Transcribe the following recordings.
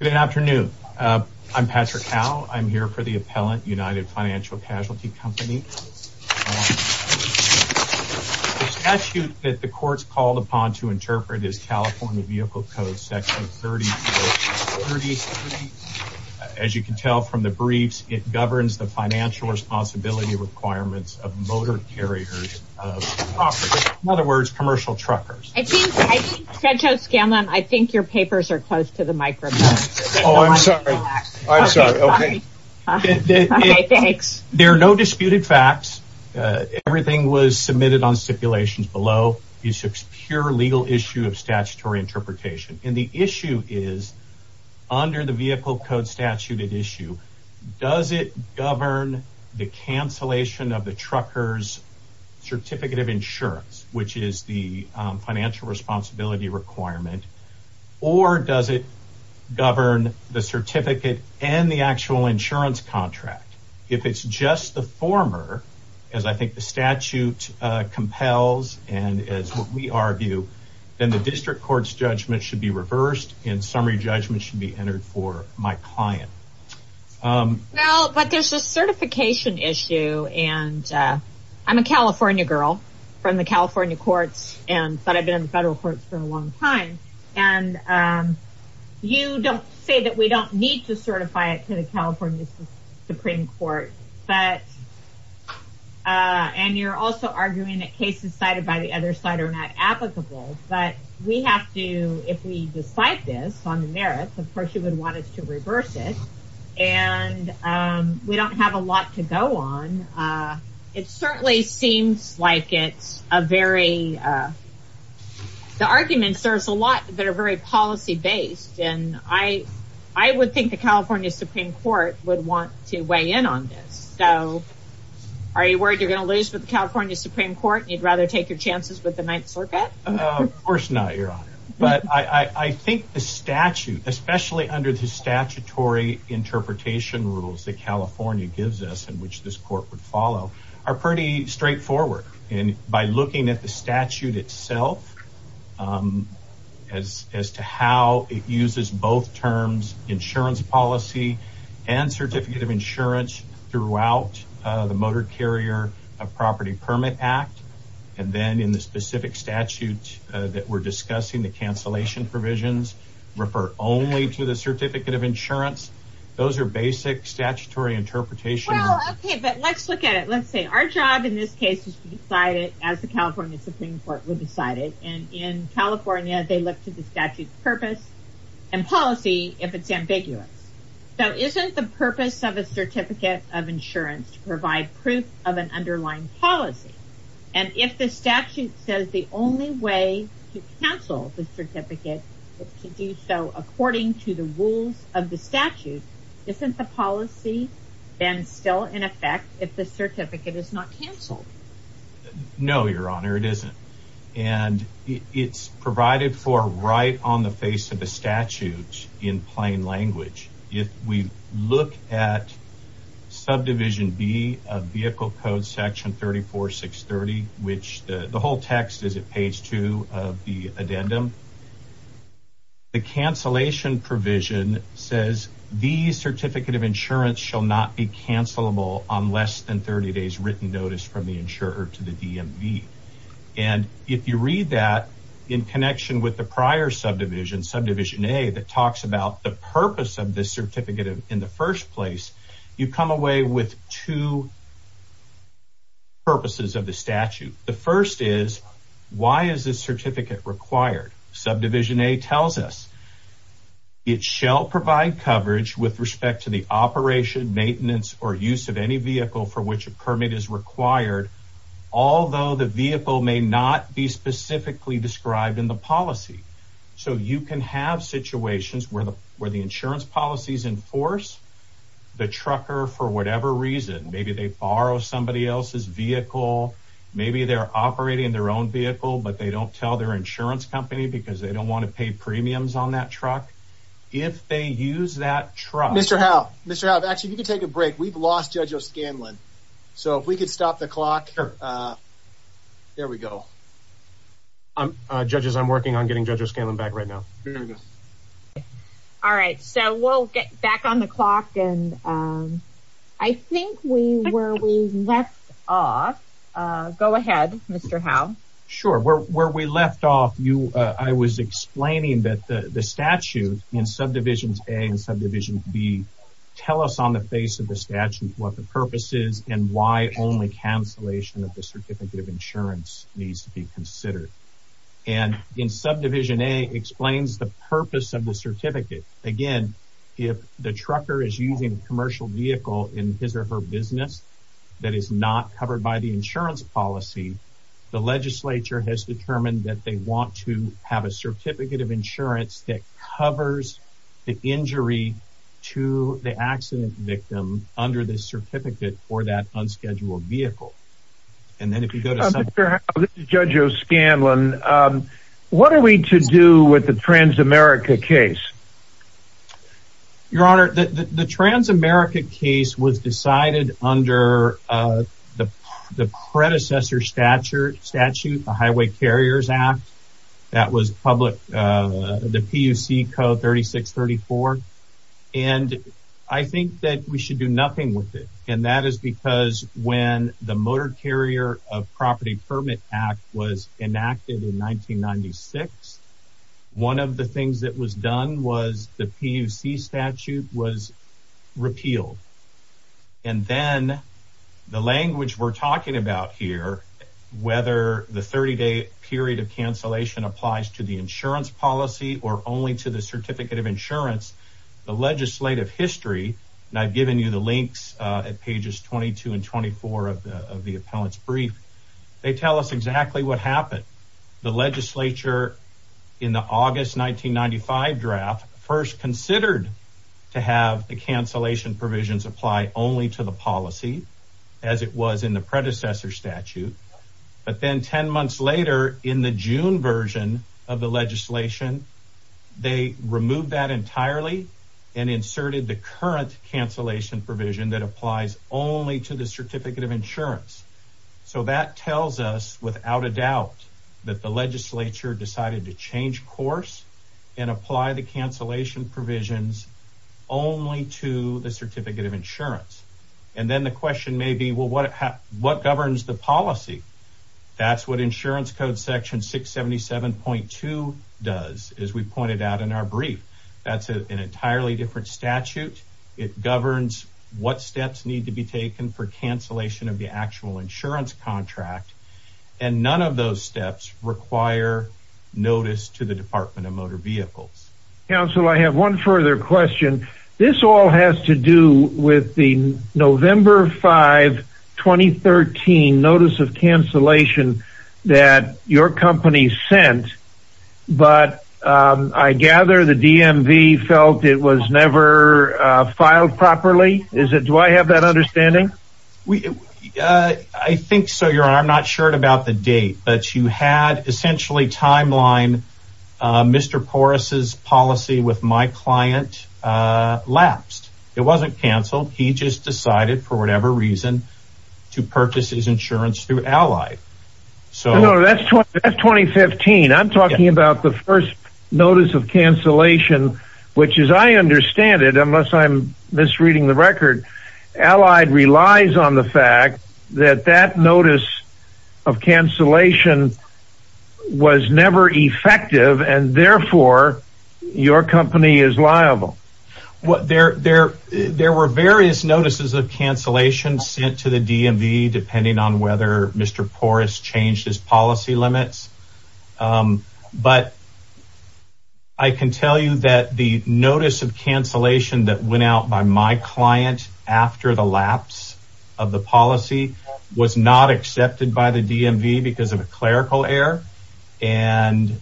Good afternoon. I'm Patrick Howe. I'm here for the appellant United Financial Casualty Company. The statute that the court's called upon to interpret is California Vehicle Code Section 30. As you can tell from the briefs, it governs the financial responsibility requirements of motor carriers of property. In other words, commercial truckers. I think, I think Sancho Oh, I'm sorry. I'm sorry. Okay. There are no disputed facts. Everything was submitted on stipulations below. It's a pure legal issue of statutory interpretation. And the issue is, under the vehicle code statute at issue, does it govern the cancellation of the truckers certificate of insurance, which is the financial responsibility requirement, or does it govern the certificate and the actual insurance contract? If it's just the former, as I think the statute compels, and as we argue, then the district court's judgment should be reversed and summary judgment should be entered for my client. Well, but there's a certification issue. And I'm a California girl from the California courts. And but I've been in the federal courts for a long time. And you don't say that we don't need to certify it to the California Supreme Court. But and you're also arguing that cases cited by the other side are not applicable. But we have to if we decide this on the merits, of course, you would want us to reverse it. And we don't have a lot to go on. It certainly seems like it's a very, the arguments, there's a lot that are very policy based. And I, I would think the California Supreme Court would want to weigh in on this. So are you worried you're going to lose with the California Supreme Court, you'd rather take your chances with the Ninth Circuit? Of course not, Your Honor. But I think the statute, especially under the statutory interpretation rules that California gives us in which this court would follow are pretty straightforward. And by looking at the statute itself, as to how it uses both terms, insurance policy, and certificate of insurance throughout the Motor Carrier Property Permit Act. And then in the specific statute that we're discussing the cancellation provisions refer only to the certificate of insurance. Those are basic statutory interpretation. Okay, but let's look at it. Let's say our job in this case is to decide it as the California Supreme Court would decide it. And in California, they look to the statute purpose and policy if it's ambiguous. So isn't the purpose of a certificate of insurance to provide proof of an underlying policy? And if the statute says the only way to cancel the certificate is to do so according to the rules of the statute, isn't the then still in effect if the certificate is not canceled? No, Your Honor, it isn't. And it's provided for right on the face of the statute in plain language. If we look at subdivision B of vehicle code section 34630, which the whole text is at page two of the addendum, the cancellation provision says the certificate of insurance shall not be cancelable on less than 30 days written notice from the insurer to the DMV. And if you read that in connection with the prior subdivision, subdivision A, that talks about the purpose of this certificate in the first place, you come away with two purposes of the statute. The first is why is this certificate required? Subdivision A tells us it shall provide coverage with respect to the operation, maintenance, or use of any vehicle for which a permit is required, although the vehicle may not be specifically described in the policy. So you can have situations where the insurance policies enforce the trucker for whatever reason. Maybe they borrow somebody else's vehicle. Maybe they're operating their own vehicle, but they don't tell their insurance company because they don't want to pay premiums on that truck. If they use that truck... Mr. Howe. Mr. Howe, actually, you can take a break. We've lost Judge O'Scanlan. So if we could stop the clock. There we go. Judges, I'm working on getting Judge O'Scanlan back right now. All right. So we'll get back on the clock. And I think where we left off... Go ahead, Mr. Howe. Sure. Where we left off, I was explaining that the statute in subdivisions A and subdivision B tell us on the face of the statute what the purpose is and why only cancellation of the certificate of insurance needs to be considered. And in subdivision A explains the purpose of the certificate. Again, if the trucker is using a commercial vehicle in his or her business that is not covered by the insurance policy, the legislature has determined that they want to have a certificate of insurance that covers the injury to the accident victim under this certificate for that unscheduled vehicle. And then if you go to... Mr. Howe, this is Judge O'Scanlan. What are we to do with the Transamerica case? Your Honor, the Transamerica case was decided under the predecessor statute, the Highway Carriers Act. That was the PUC Code 3634. And I think that we should do nothing with it. And that is because when the Motor Carrier of Property Permit Act was enacted in 1996, one of the things that was done was the PUC statute was repealed. And then the language we're talking about here, whether the 30-day period of cancellation applies to the insurance policy or only to the certificate of insurance, the legislative history, and I've given you the links at pages 22 and 24 of the appellant's brief, they tell us exactly what happened. The legislature in the August 1995 draft first considered to have the cancellation provisions apply only to the policy as it was in the predecessor statute. But then 10 months later in the June version of the legislation, they removed that entirely and inserted the current cancellation provision that applies only to the certificate of insurance. So that tells us without a doubt that the legislature decided to change course and apply the cancellation provisions only to the certificate of insurance. And then the question may be, well, what governs the policy? That's what Insurance Code Section 677.2 does, as we pointed out in our brief. That's an entirely different statute. It governs what steps need to be taken for cancellation of actual insurance contract, and none of those steps require notice to the Department of Motor Vehicles. Council, I have one further question. This all has to do with the November 5, 2013 notice of cancellation that your company sent, but I gather the DMV felt it was never filed properly. Do I have that understanding? I think so, Your Honor. I'm not sure about the date, but you had essentially timeline Mr. Porras's policy with my client lapsed. It wasn't canceled. He just decided for whatever reason to purchase his insurance through Ally. No, that's 2015. I'm misreading the record. Ally relies on the fact that that notice of cancellation was never effective, and therefore, your company is liable. There were various notices of cancellation sent to the DMV, depending on whether Mr. Porras changed his policy limits, but I can tell you that the notice of cancellation that went out by my client after the lapse of the policy was not accepted by the DMV because of a clerical error, and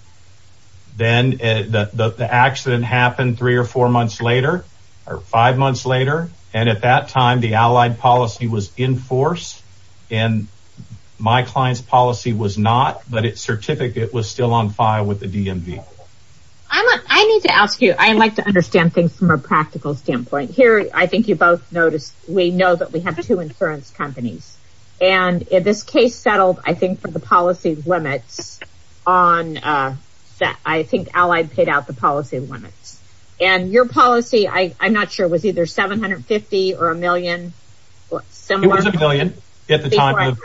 then the accident happened three or four months later, or five months later, and at that time, the Ally policy was in force, and my client's policy was not, but its certificate was still on file with the DMV. I need to ask you, I like to understand things from a practical standpoint. Here, I think you both noticed, we know that we have two insurance companies, and this case settled, I think, for the policy limits on that. I think $750,000 or $1,000,000. It was $1,000,000 at the time.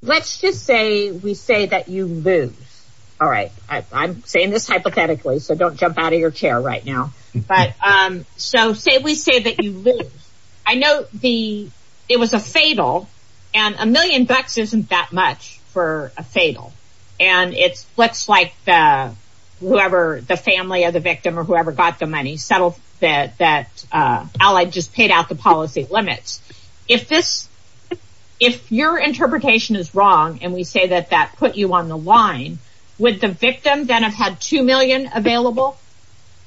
Let's just say we say that you lose. I'm saying this hypothetically, so don't jump out of your chair right now. We say that you lose. I know it was a fatal, and $1,000,000 isn't that much for a fatal, and it's looks like whoever, the family of the victim or whoever got the money settled that Ally just paid out the policy limits. If your interpretation is wrong, and we say that that put you on the line, would the victim then have had $2,000,000 available?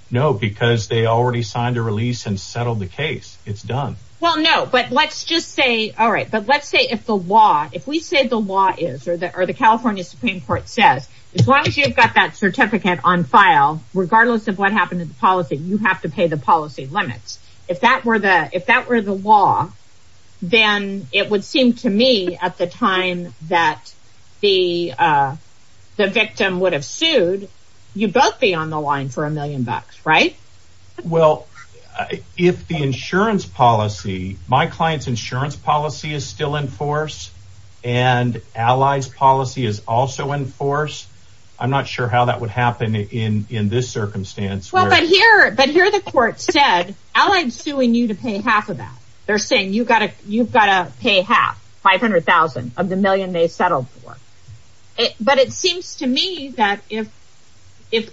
No, because they already signed a release and settled the case. It's done. No, but let's just say if the law, if we say the law is, or the California Supreme Court says, as long as you've got that certificate on file, regardless of what happened to the policy, you have to pay the policy limits. If that were the law, then it would seem to me at the time that the victim would have sued, you'd both be on the line for $1,000,000, right? Well, if the insurance policy, my client's insurance policy is still in force, and Ally's policy is also in force, I'm not sure how that would happen in this circumstance. But here the court said, Ally's suing you to pay half of that. They're saying you've got to pay half, $500,000 of the $1,000,000 they settled for. But it seems to me that if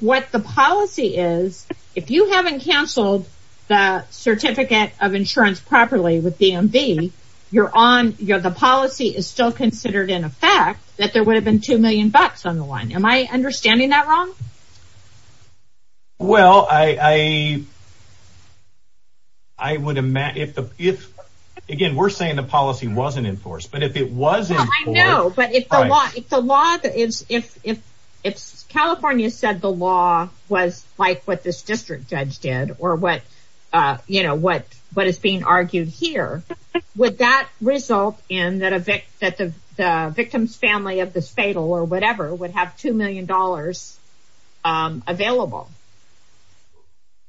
what the policy is, if you haven't canceled the certificate of insurance properly with DMV, the policy is still considered in effect that there would have been $2,000,000 on the line. Am I understanding that wrong? Well, I would imagine, again, we're saying the policy wasn't in force. But if California said the law was like what this district judge did, or what is being argued here, would that result in that the victim's family of this fatal or whatever would have $2,000,000 available?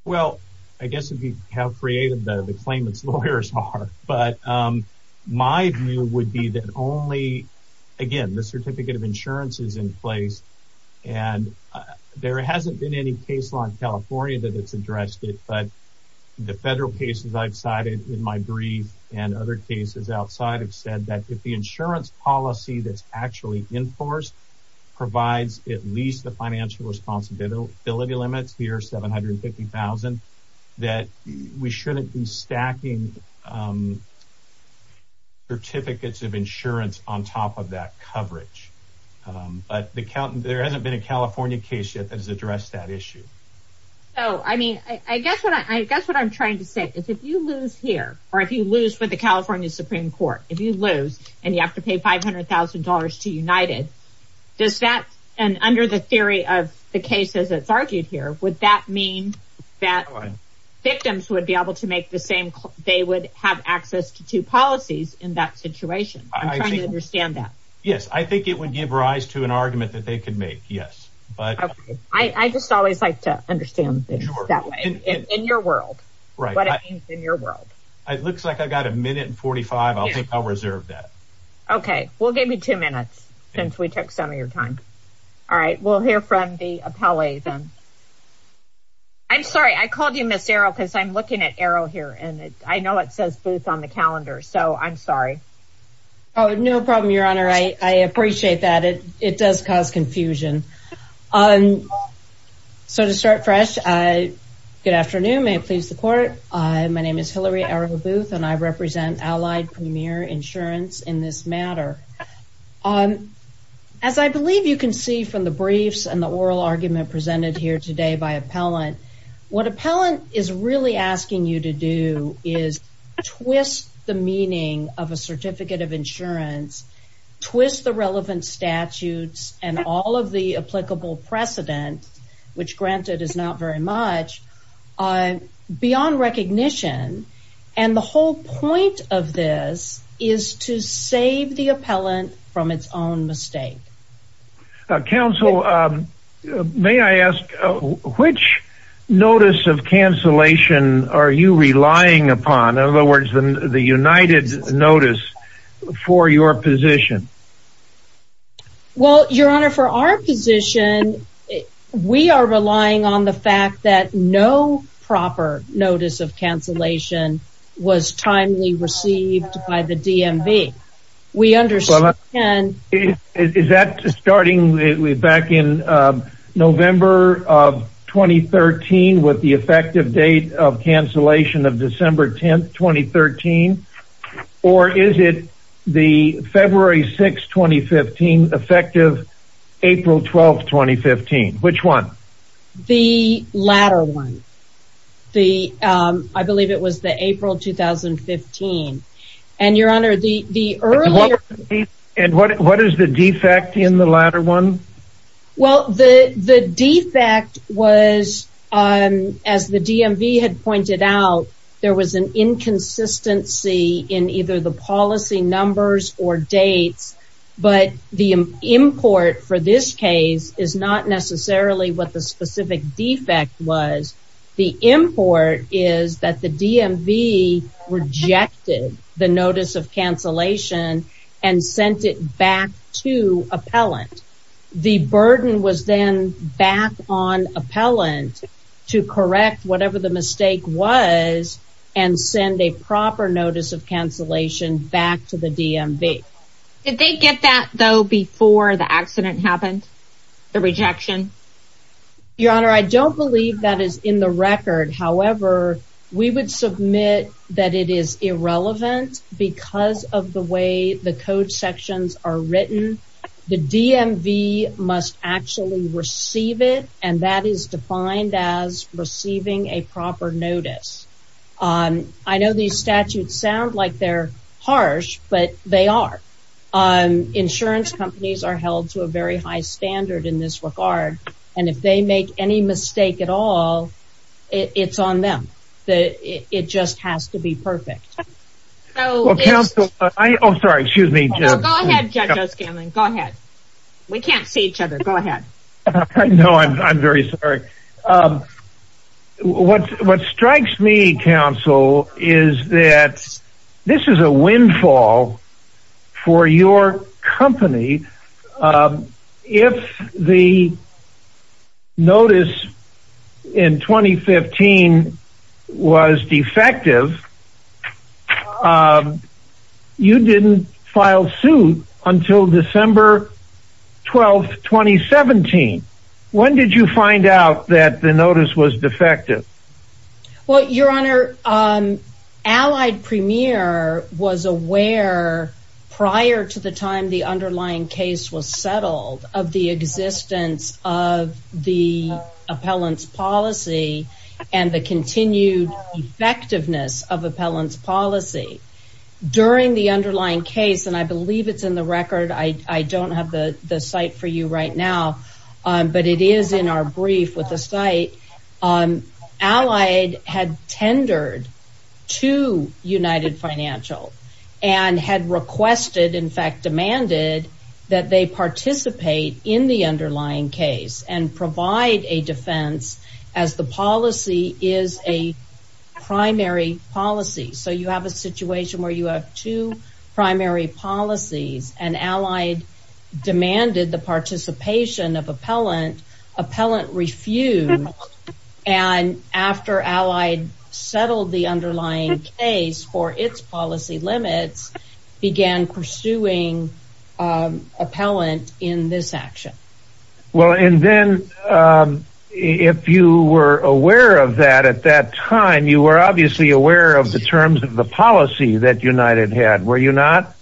Well, I guess it would be how creative the claimant's lawyers are. But my view would be that only, again, the certificate of insurance is in place, and there hasn't been any case law in California that it's addressed it. But the federal cases I've cited in my brief and other cases outside have said that if the insurance policy that's actually in force provides at least the financial responsibility limits here, $750,000, that we shouldn't be stacking certificates of insurance on top of that coverage. But there hasn't been a California case yet that has addressed that issue. So, I mean, I guess what I'm trying to say is if you lose here, or if you lose with the California Supreme Court, if you lose and you have to pay $500,000 to United, does that, and under the theory of the cases that's argued here, would that mean that victims would be able to make the same, they would have access to two policies in that situation? I'm trying to understand that. Yes, I think it would give rise to an argument that they could make, yes. I just always like to understand things that way, in your world, what it means in your world. It looks like I've got a minute and 45, I'll think I'll reserve that. Okay, we'll give you two minutes since we took some of your time. All right, we'll hear from the appellee then. I'm sorry, I called you Ms. Arrow because I'm looking at Arrow here and I know it says Booth on the calendar, so I'm sorry. Oh, no problem, Your Honor. I appreciate that. It does cause confusion. So to start fresh, good afternoon, may it please the court. My name is Hillary Arrow Booth and I represent Allied Premier Insurance in this matter. As I believe you can see from the briefs and the oral argument presented here today by appellant, what appellant is really asking you to do is twist the meaning of a certificate of insurance, twist the relevant statutes and all of the applicable precedent, which granted is not very much, beyond recognition. And the whole point of this is to save the appellant from its own mistake. Counsel, may I ask which notice of cancellation are you relying upon? In other words, the United notice for your position? Well, Your Honor, for our position, we are relying on the fact that no proper notice of cancellation was timely received by the DMV. Is that starting back in November of 2013 with the effective date of cancellation of December 10, 2013? Or is it the February 6, 2015 effective April 12, 2015? Which one? The latter one. I believe it was the April 2015. And Your Honor, the earlier... And what is the defect in the latter one? Well, the defect was, as the DMV had pointed out, there was an inconsistency in either the policy numbers or dates. But the import for this case is not necessarily what the specific defect was. The import is that the DMV rejected the notice of cancellation and sent it back to appellant. The burden was then back on appellant to correct whatever the mistake was and send a proper notice of cancellation back to the DMV. Did they get that, though, before the accident happened, the rejection? Your Honor, I don't believe that is in the record. However, we would submit that it is irrelevant because of the way the code sections are written. The DMV must actually receive it, and that is defined as receiving a proper notice. I know these statutes sound like they're harsh, but they are. Insurance companies are held to a very high standard in this regard, and if they make any mistake at all, it's on them. It just has to be perfect. Well, counsel, I... Oh, sorry. Excuse me. Go ahead, Judge O'Scanlan. Go ahead. We can't see each other. Go ahead. I know. I'm very sorry. What strikes me, counsel, is that this is a windfall for your company. If the notice in 2015 was defective, you didn't file suit until December 12, 2017. When did you find out that the notice was defective? Well, Your Honor, Allied Premier was aware prior to the time the underlying case was settled of the existence of the appellant's policy and the continued effectiveness of appellant's policy. During the underlying case, and I believe it's in the record. I don't have the site for you right now, but it is in our brief with the site. Allied had tendered to United Financial and had requested, in fact, demanded that they participate in the underlying case and provide a defense as the policy is a primary policy. So, you have a situation where you have two primary policies and Allied demanded the participation of appellant, appellant refused, and after Allied settled the underlying case for its policy limits, began pursuing appellant in this action. Well, and then if you were aware of that at that time, you were obviously aware of the terms of the policy that United had, were you not?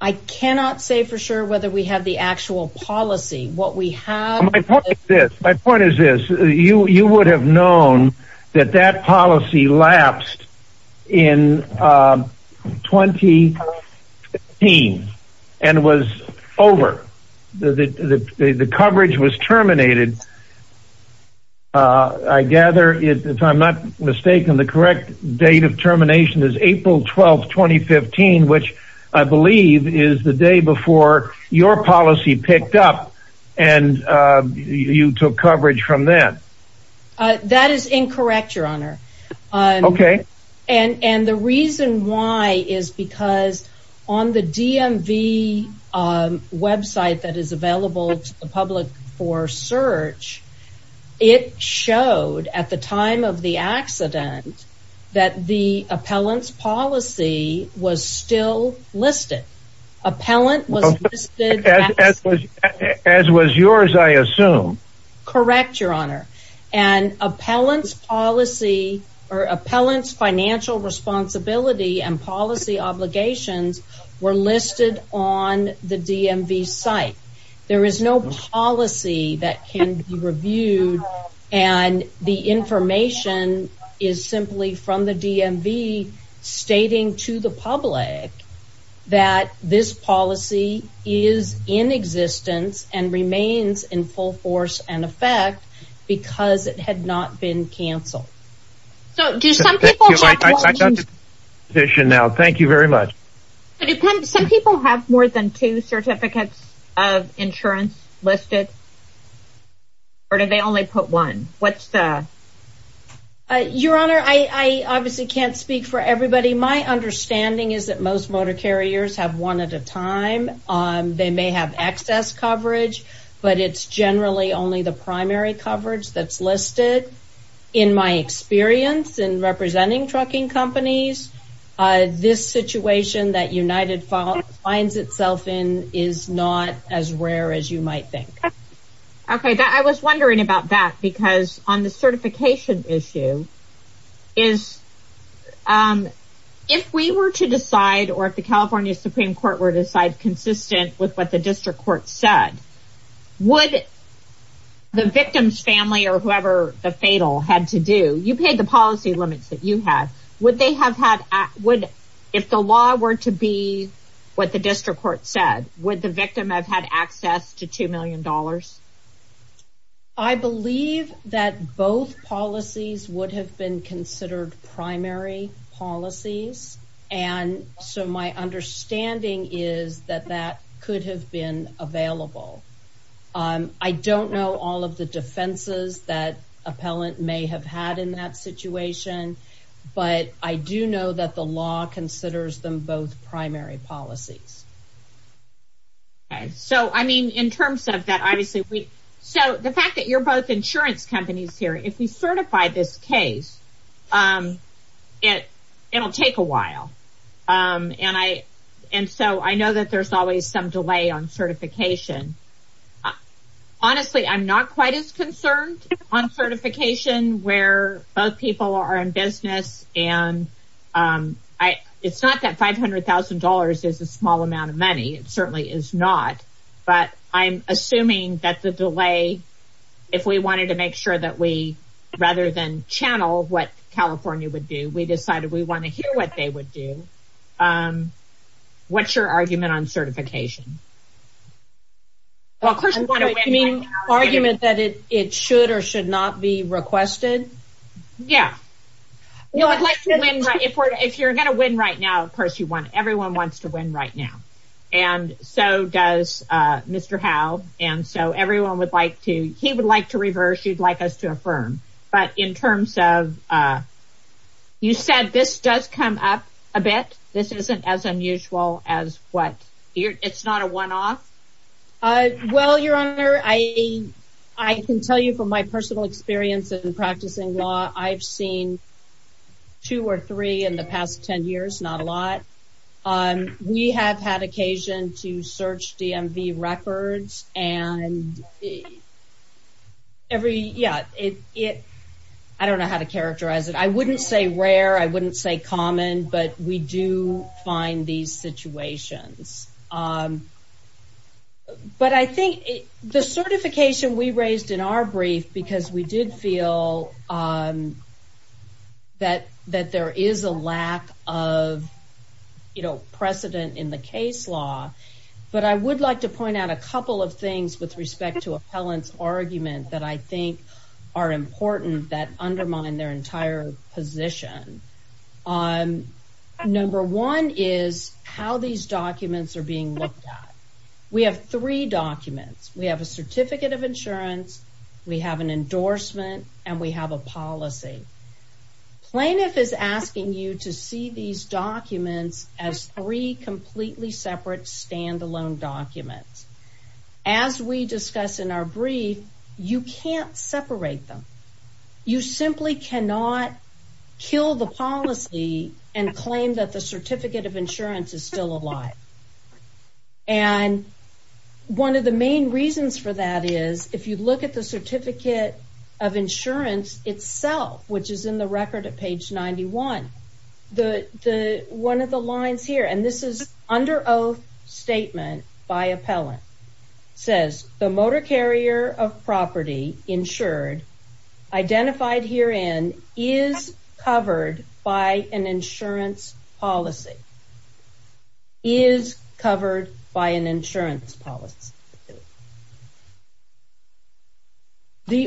I cannot say for sure whether we have the that that policy lapsed in 2015 and was over. The coverage was terminated. I gather, if I'm not mistaken, the correct date of termination is April 12, 2015, which I believe is the day before your policy picked up and you took coverage from that. That is incorrect, your honor. Okay. And the reason why is because on the DMV website that is available to the public for search, it showed at the time of the accident that the appellant's policy was still listed. Appellant was listed as was yours, I assume. Correct, your honor. And appellant's policy or appellant's financial responsibility and policy obligations were listed on the DMV site. There is no policy that can be reviewed and the information is simply from the DMV stating to the public that this policy is in existence and remains in full force and effect because it had not been canceled. So, do some people have more than two certificates of insurance listed or do they only put one? What's the... Your honor, I obviously can't speak for everybody. My understanding is that most motor carriers have one at a time. They may have excess coverage, but it's generally only the primary coverage that's listed. In my experience in representing trucking companies, this situation that United finds itself in is not as rare as you might think. Okay, I was wondering about that because on the certification issue, if we were to decide or if the California Supreme Court were to decide consistent with what the district court said, would the victim's family or whoever the fatal had to do, you paid the what the district court said, would the victim have had access to $2 million? I believe that both policies would have been considered primary policies and so my understanding is that that could have been available. I don't know all of the defenses that appellant may have had in that situation, but I do know that the law considers them both primary policies. Okay, so I mean in terms of that, obviously we... So the fact that you're both insurance companies here, if we certify this case, it'll take a while. And so I know that there's always some delay on certification. Honestly, I'm not quite as concerned on is a small amount of money. It certainly is not, but I'm assuming that the delay, if we wanted to make sure that we rather than channel what California would do, we decided we want to hear what they would do. What's your argument on certification? Well, of course, I mean, argument that it should or should not be requested. Yeah. If you're going to win right now, of course you want, everyone wants to win right now. And so does Mr. Howe. And so everyone would like to, he would like to reverse, you'd like us to affirm. But in terms of, you said this does come up a bit, this isn't as unusual as what, it's not a one-off? Well, your honor, I can tell you from my personal experience in practicing law, I've seen two or three in the past 10 years, not a lot. We have had occasion to search DMV records and every, yeah, it, I don't know how to characterize it. I wouldn't say rare, I wouldn't say common, but we do find these situations. Um, but I think the certification we raised in our brief, because we did feel, um, that, that there is a lack of, you know, precedent in the case law, but I would like to point out a couple of things with respect to appellant's argument that I think are important that are being looked at. We have three documents. We have a certificate of insurance, we have an endorsement, and we have a policy. Plaintiff is asking you to see these documents as three completely separate standalone documents. As we discuss in our brief, you can't separate them. You simply cannot kill the policy and claim that the certificate of insurance is still alive. And one of the main reasons for that is if you look at the certificate of insurance itself, which is in the record at page 91, the, the, one of the lines here, and this is under oath statement by appellant, says the motor carrier of property insured identified herein is covered by an insurance policy. The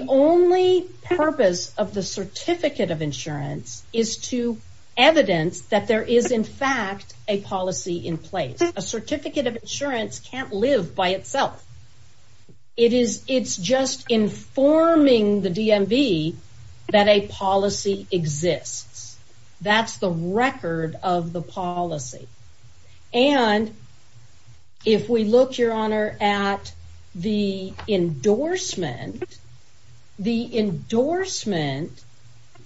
only purpose of the certificate of insurance is to evidence that there is in fact a policy in place. A certificate of insurance can't live by itself. It is, it's just informing the DMV that a policy exists. That's the record of the policy. And if we look, your honor, at the endorsement, the endorsement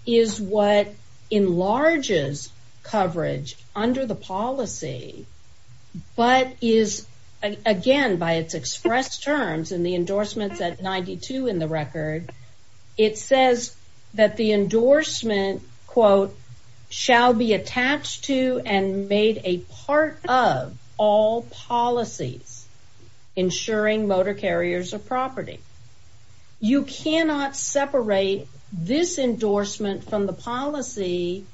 is what enlarges coverage under the policy, but is, again, by its expressed terms in the endorsements at 92 in the record, it says that the endorsement quote, shall be attached to and made a part of all policies ensuring motor carriers of property. You cannot separate this endorsement from the policy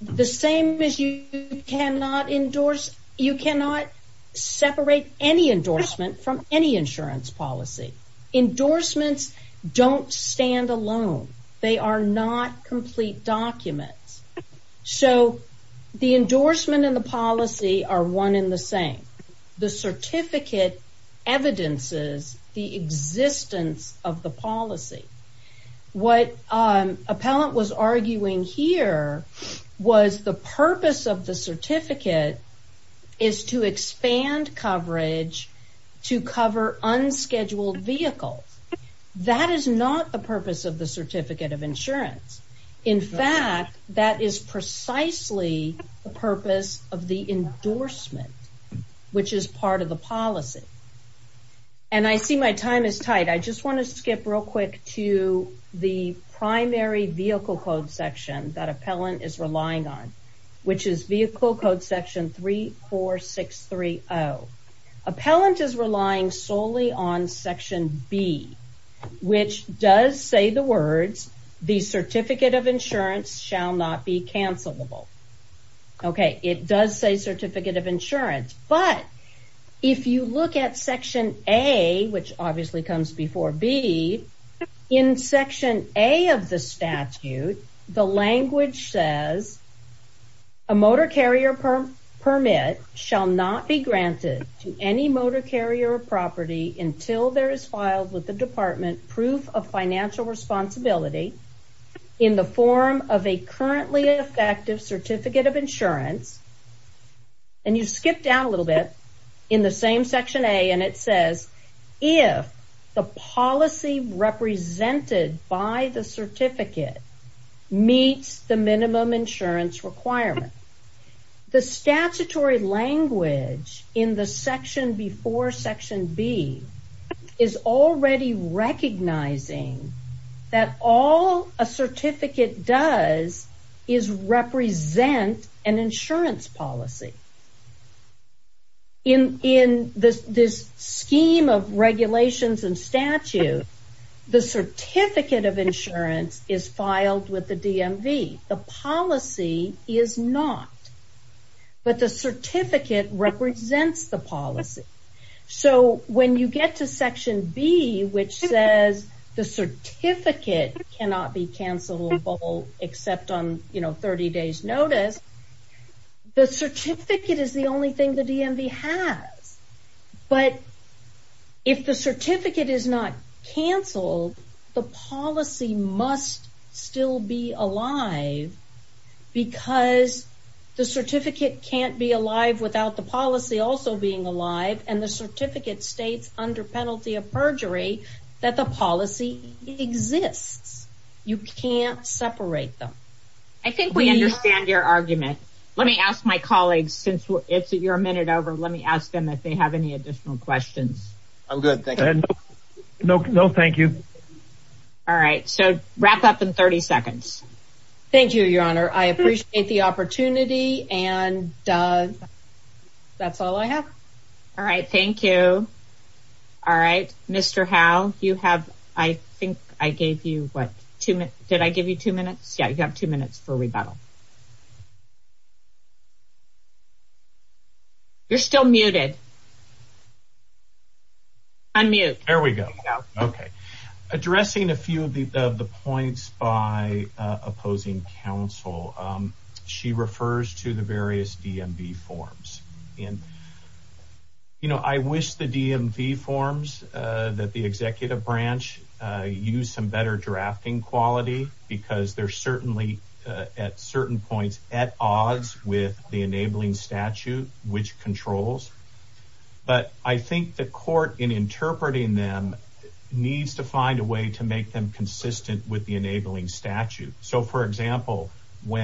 the same as you cannot endorse, you cannot separate any endorsement from any insurance policy. Endorsements don't stand alone. They are not complete documents. So, the endorsement and the policy are one in the same. The certificate evidences the existence of the policy. What appellant was arguing here was the purpose of the certificate is to expand coverage to cover unscheduled vehicles. That is not the purpose of the certificate of insurance. In fact, that is precisely the purpose of the endorsement, which is part of the policy. And I see my time is tight. I just want to skip real quick to the primary vehicle code section that appellant is relying on, which is vehicle code section 34630. Appellant is relying solely on section B, which does say the words, the certificate of insurance shall not be cancelable. It does say certificate of insurance, but if you look at section A, which obviously comes before B, in section A of the statute, the language says a motor carrier permit shall not be granted to any motor carrier property until there is filed with the department proof of financial responsibility in the form of a currently effective certificate of insurance. And you skip down a section A and it says, if the policy represented by the certificate meets the minimum insurance requirement. The statutory language in the section before section B is already recognizing that all a certificate does is represent an insurance policy. In this scheme of regulations and statute, the certificate of insurance is filed with the DMV. The policy is not. But the certificate cannot be cancelable except on 30 days notice. The certificate is the only thing the DMV has. But if the certificate is not canceled, the policy must still be alive because the certificate can't be alive without the policy also being alive and the certificate states under perjury that the policy exists. You can't separate them. I think we understand your argument. Let me ask my colleagues since you're a minute over, let me ask them if they have any additional questions. I'm good. Thank you. No, thank you. All right. So wrap up in 30 seconds. Thank you, your honor. I appreciate the opportunity and that's all I have. All right. Thank you. All right. Mr. Howe, you have, I think I gave you what, two minutes. Did I give you two minutes? Yeah, you have two minutes for rebuttal. You're still muted. Unmute. There we go. Okay. Addressing a few of the points by opposing counsel, she refers to the various DMV forms. I wish the DMV forms that the executive branch use some better drafting quality because they're certainly at certain points at odds with the enabling statute, which controls. But I think the court in interpreting them needs to find a way to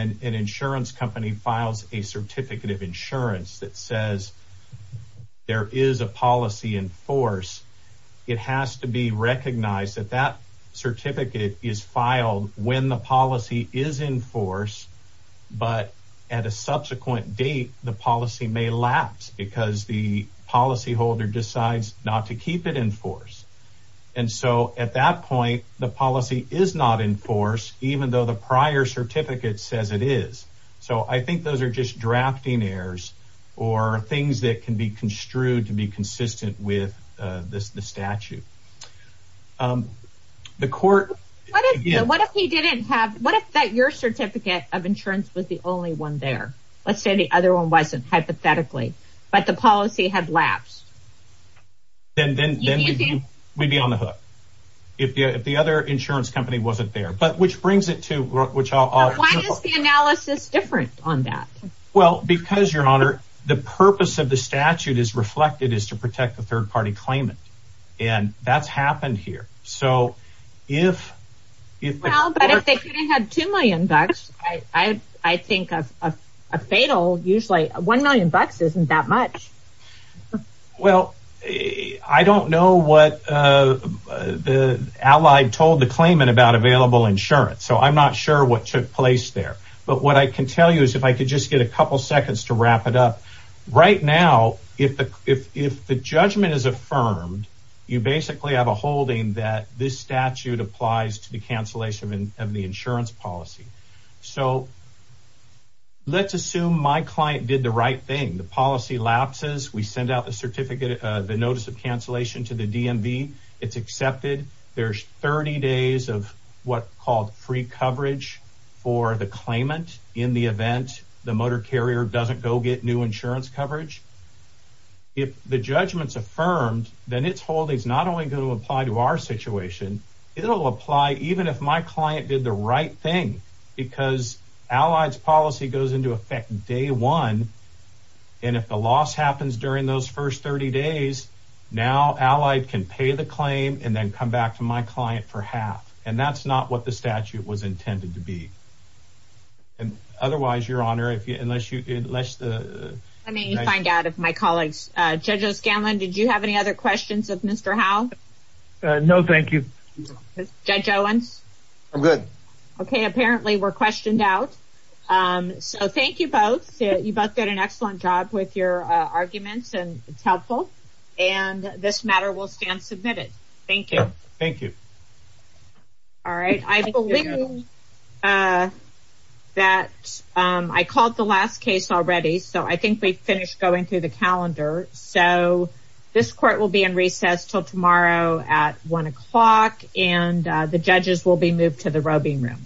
an insurance company files a certificate of insurance that says there is a policy in force. It has to be recognized that that certificate is filed when the policy is in force, but at a subsequent date, the policy may lapse because the policy holder decides not to keep it in force. And so at that point, the policy is not in force, even though the prior certificate says it is. So I think those are just drafting errors or things that can be construed to be consistent with the statute. The court, what if he didn't have, what if that your certificate of insurance was the only one there? Let's say the other one wasn't hypothetically, but the policy had lapsed. Then we'd be on the hook. If the other insurance company wasn't there, but which brings it to why is the analysis different on that? Well, because your honor, the purpose of the statute is reflected is to protect the third party claimant. And that's happened here. So if if they couldn't have two million bucks, I think a fatal usually one million bucks isn't that much. Well, I don't know what the allied told the claimant about available insurance, so I'm not sure what took place there. But what I can tell you is if I could just get a couple seconds to wrap it up right now, if if if the judgment is affirmed, you basically have a holding that this statute applies to the cancellation of the insurance policy. So. Let's assume my client did the right thing. The policy lapses. We send out the notice of cancellation to the DMV. It's accepted. There's 30 days of what called free coverage for the claimant in the event the motor carrier doesn't go get new insurance coverage. If the judgment's affirmed, then it's holding is not only going to apply to our situation. It'll apply even if my client did the right thing because Allied's policy goes into effect day one. And if the loss happens during those first 30 days, now Allied can pay the claim and then come back to my client for half. And that's not what the statute was intended to be. And otherwise, your honor, if you unless you unless the I mean, you find out if my colleagues judges Scanlon, did you have any other questions of Mr. Howe? No, thank you. Judge Owens. I'm good. Okay, apparently we're questioned out. So thank you both. You both did an excellent job with your arguments and it's helpful. And this matter will stand submitted. Thank you. Thank you. All right. I believe that I called the last case already. So I think we finished going through the calendar. So this court will be in recess till tomorrow at one o'clock, and the judges will be moved to the roving room.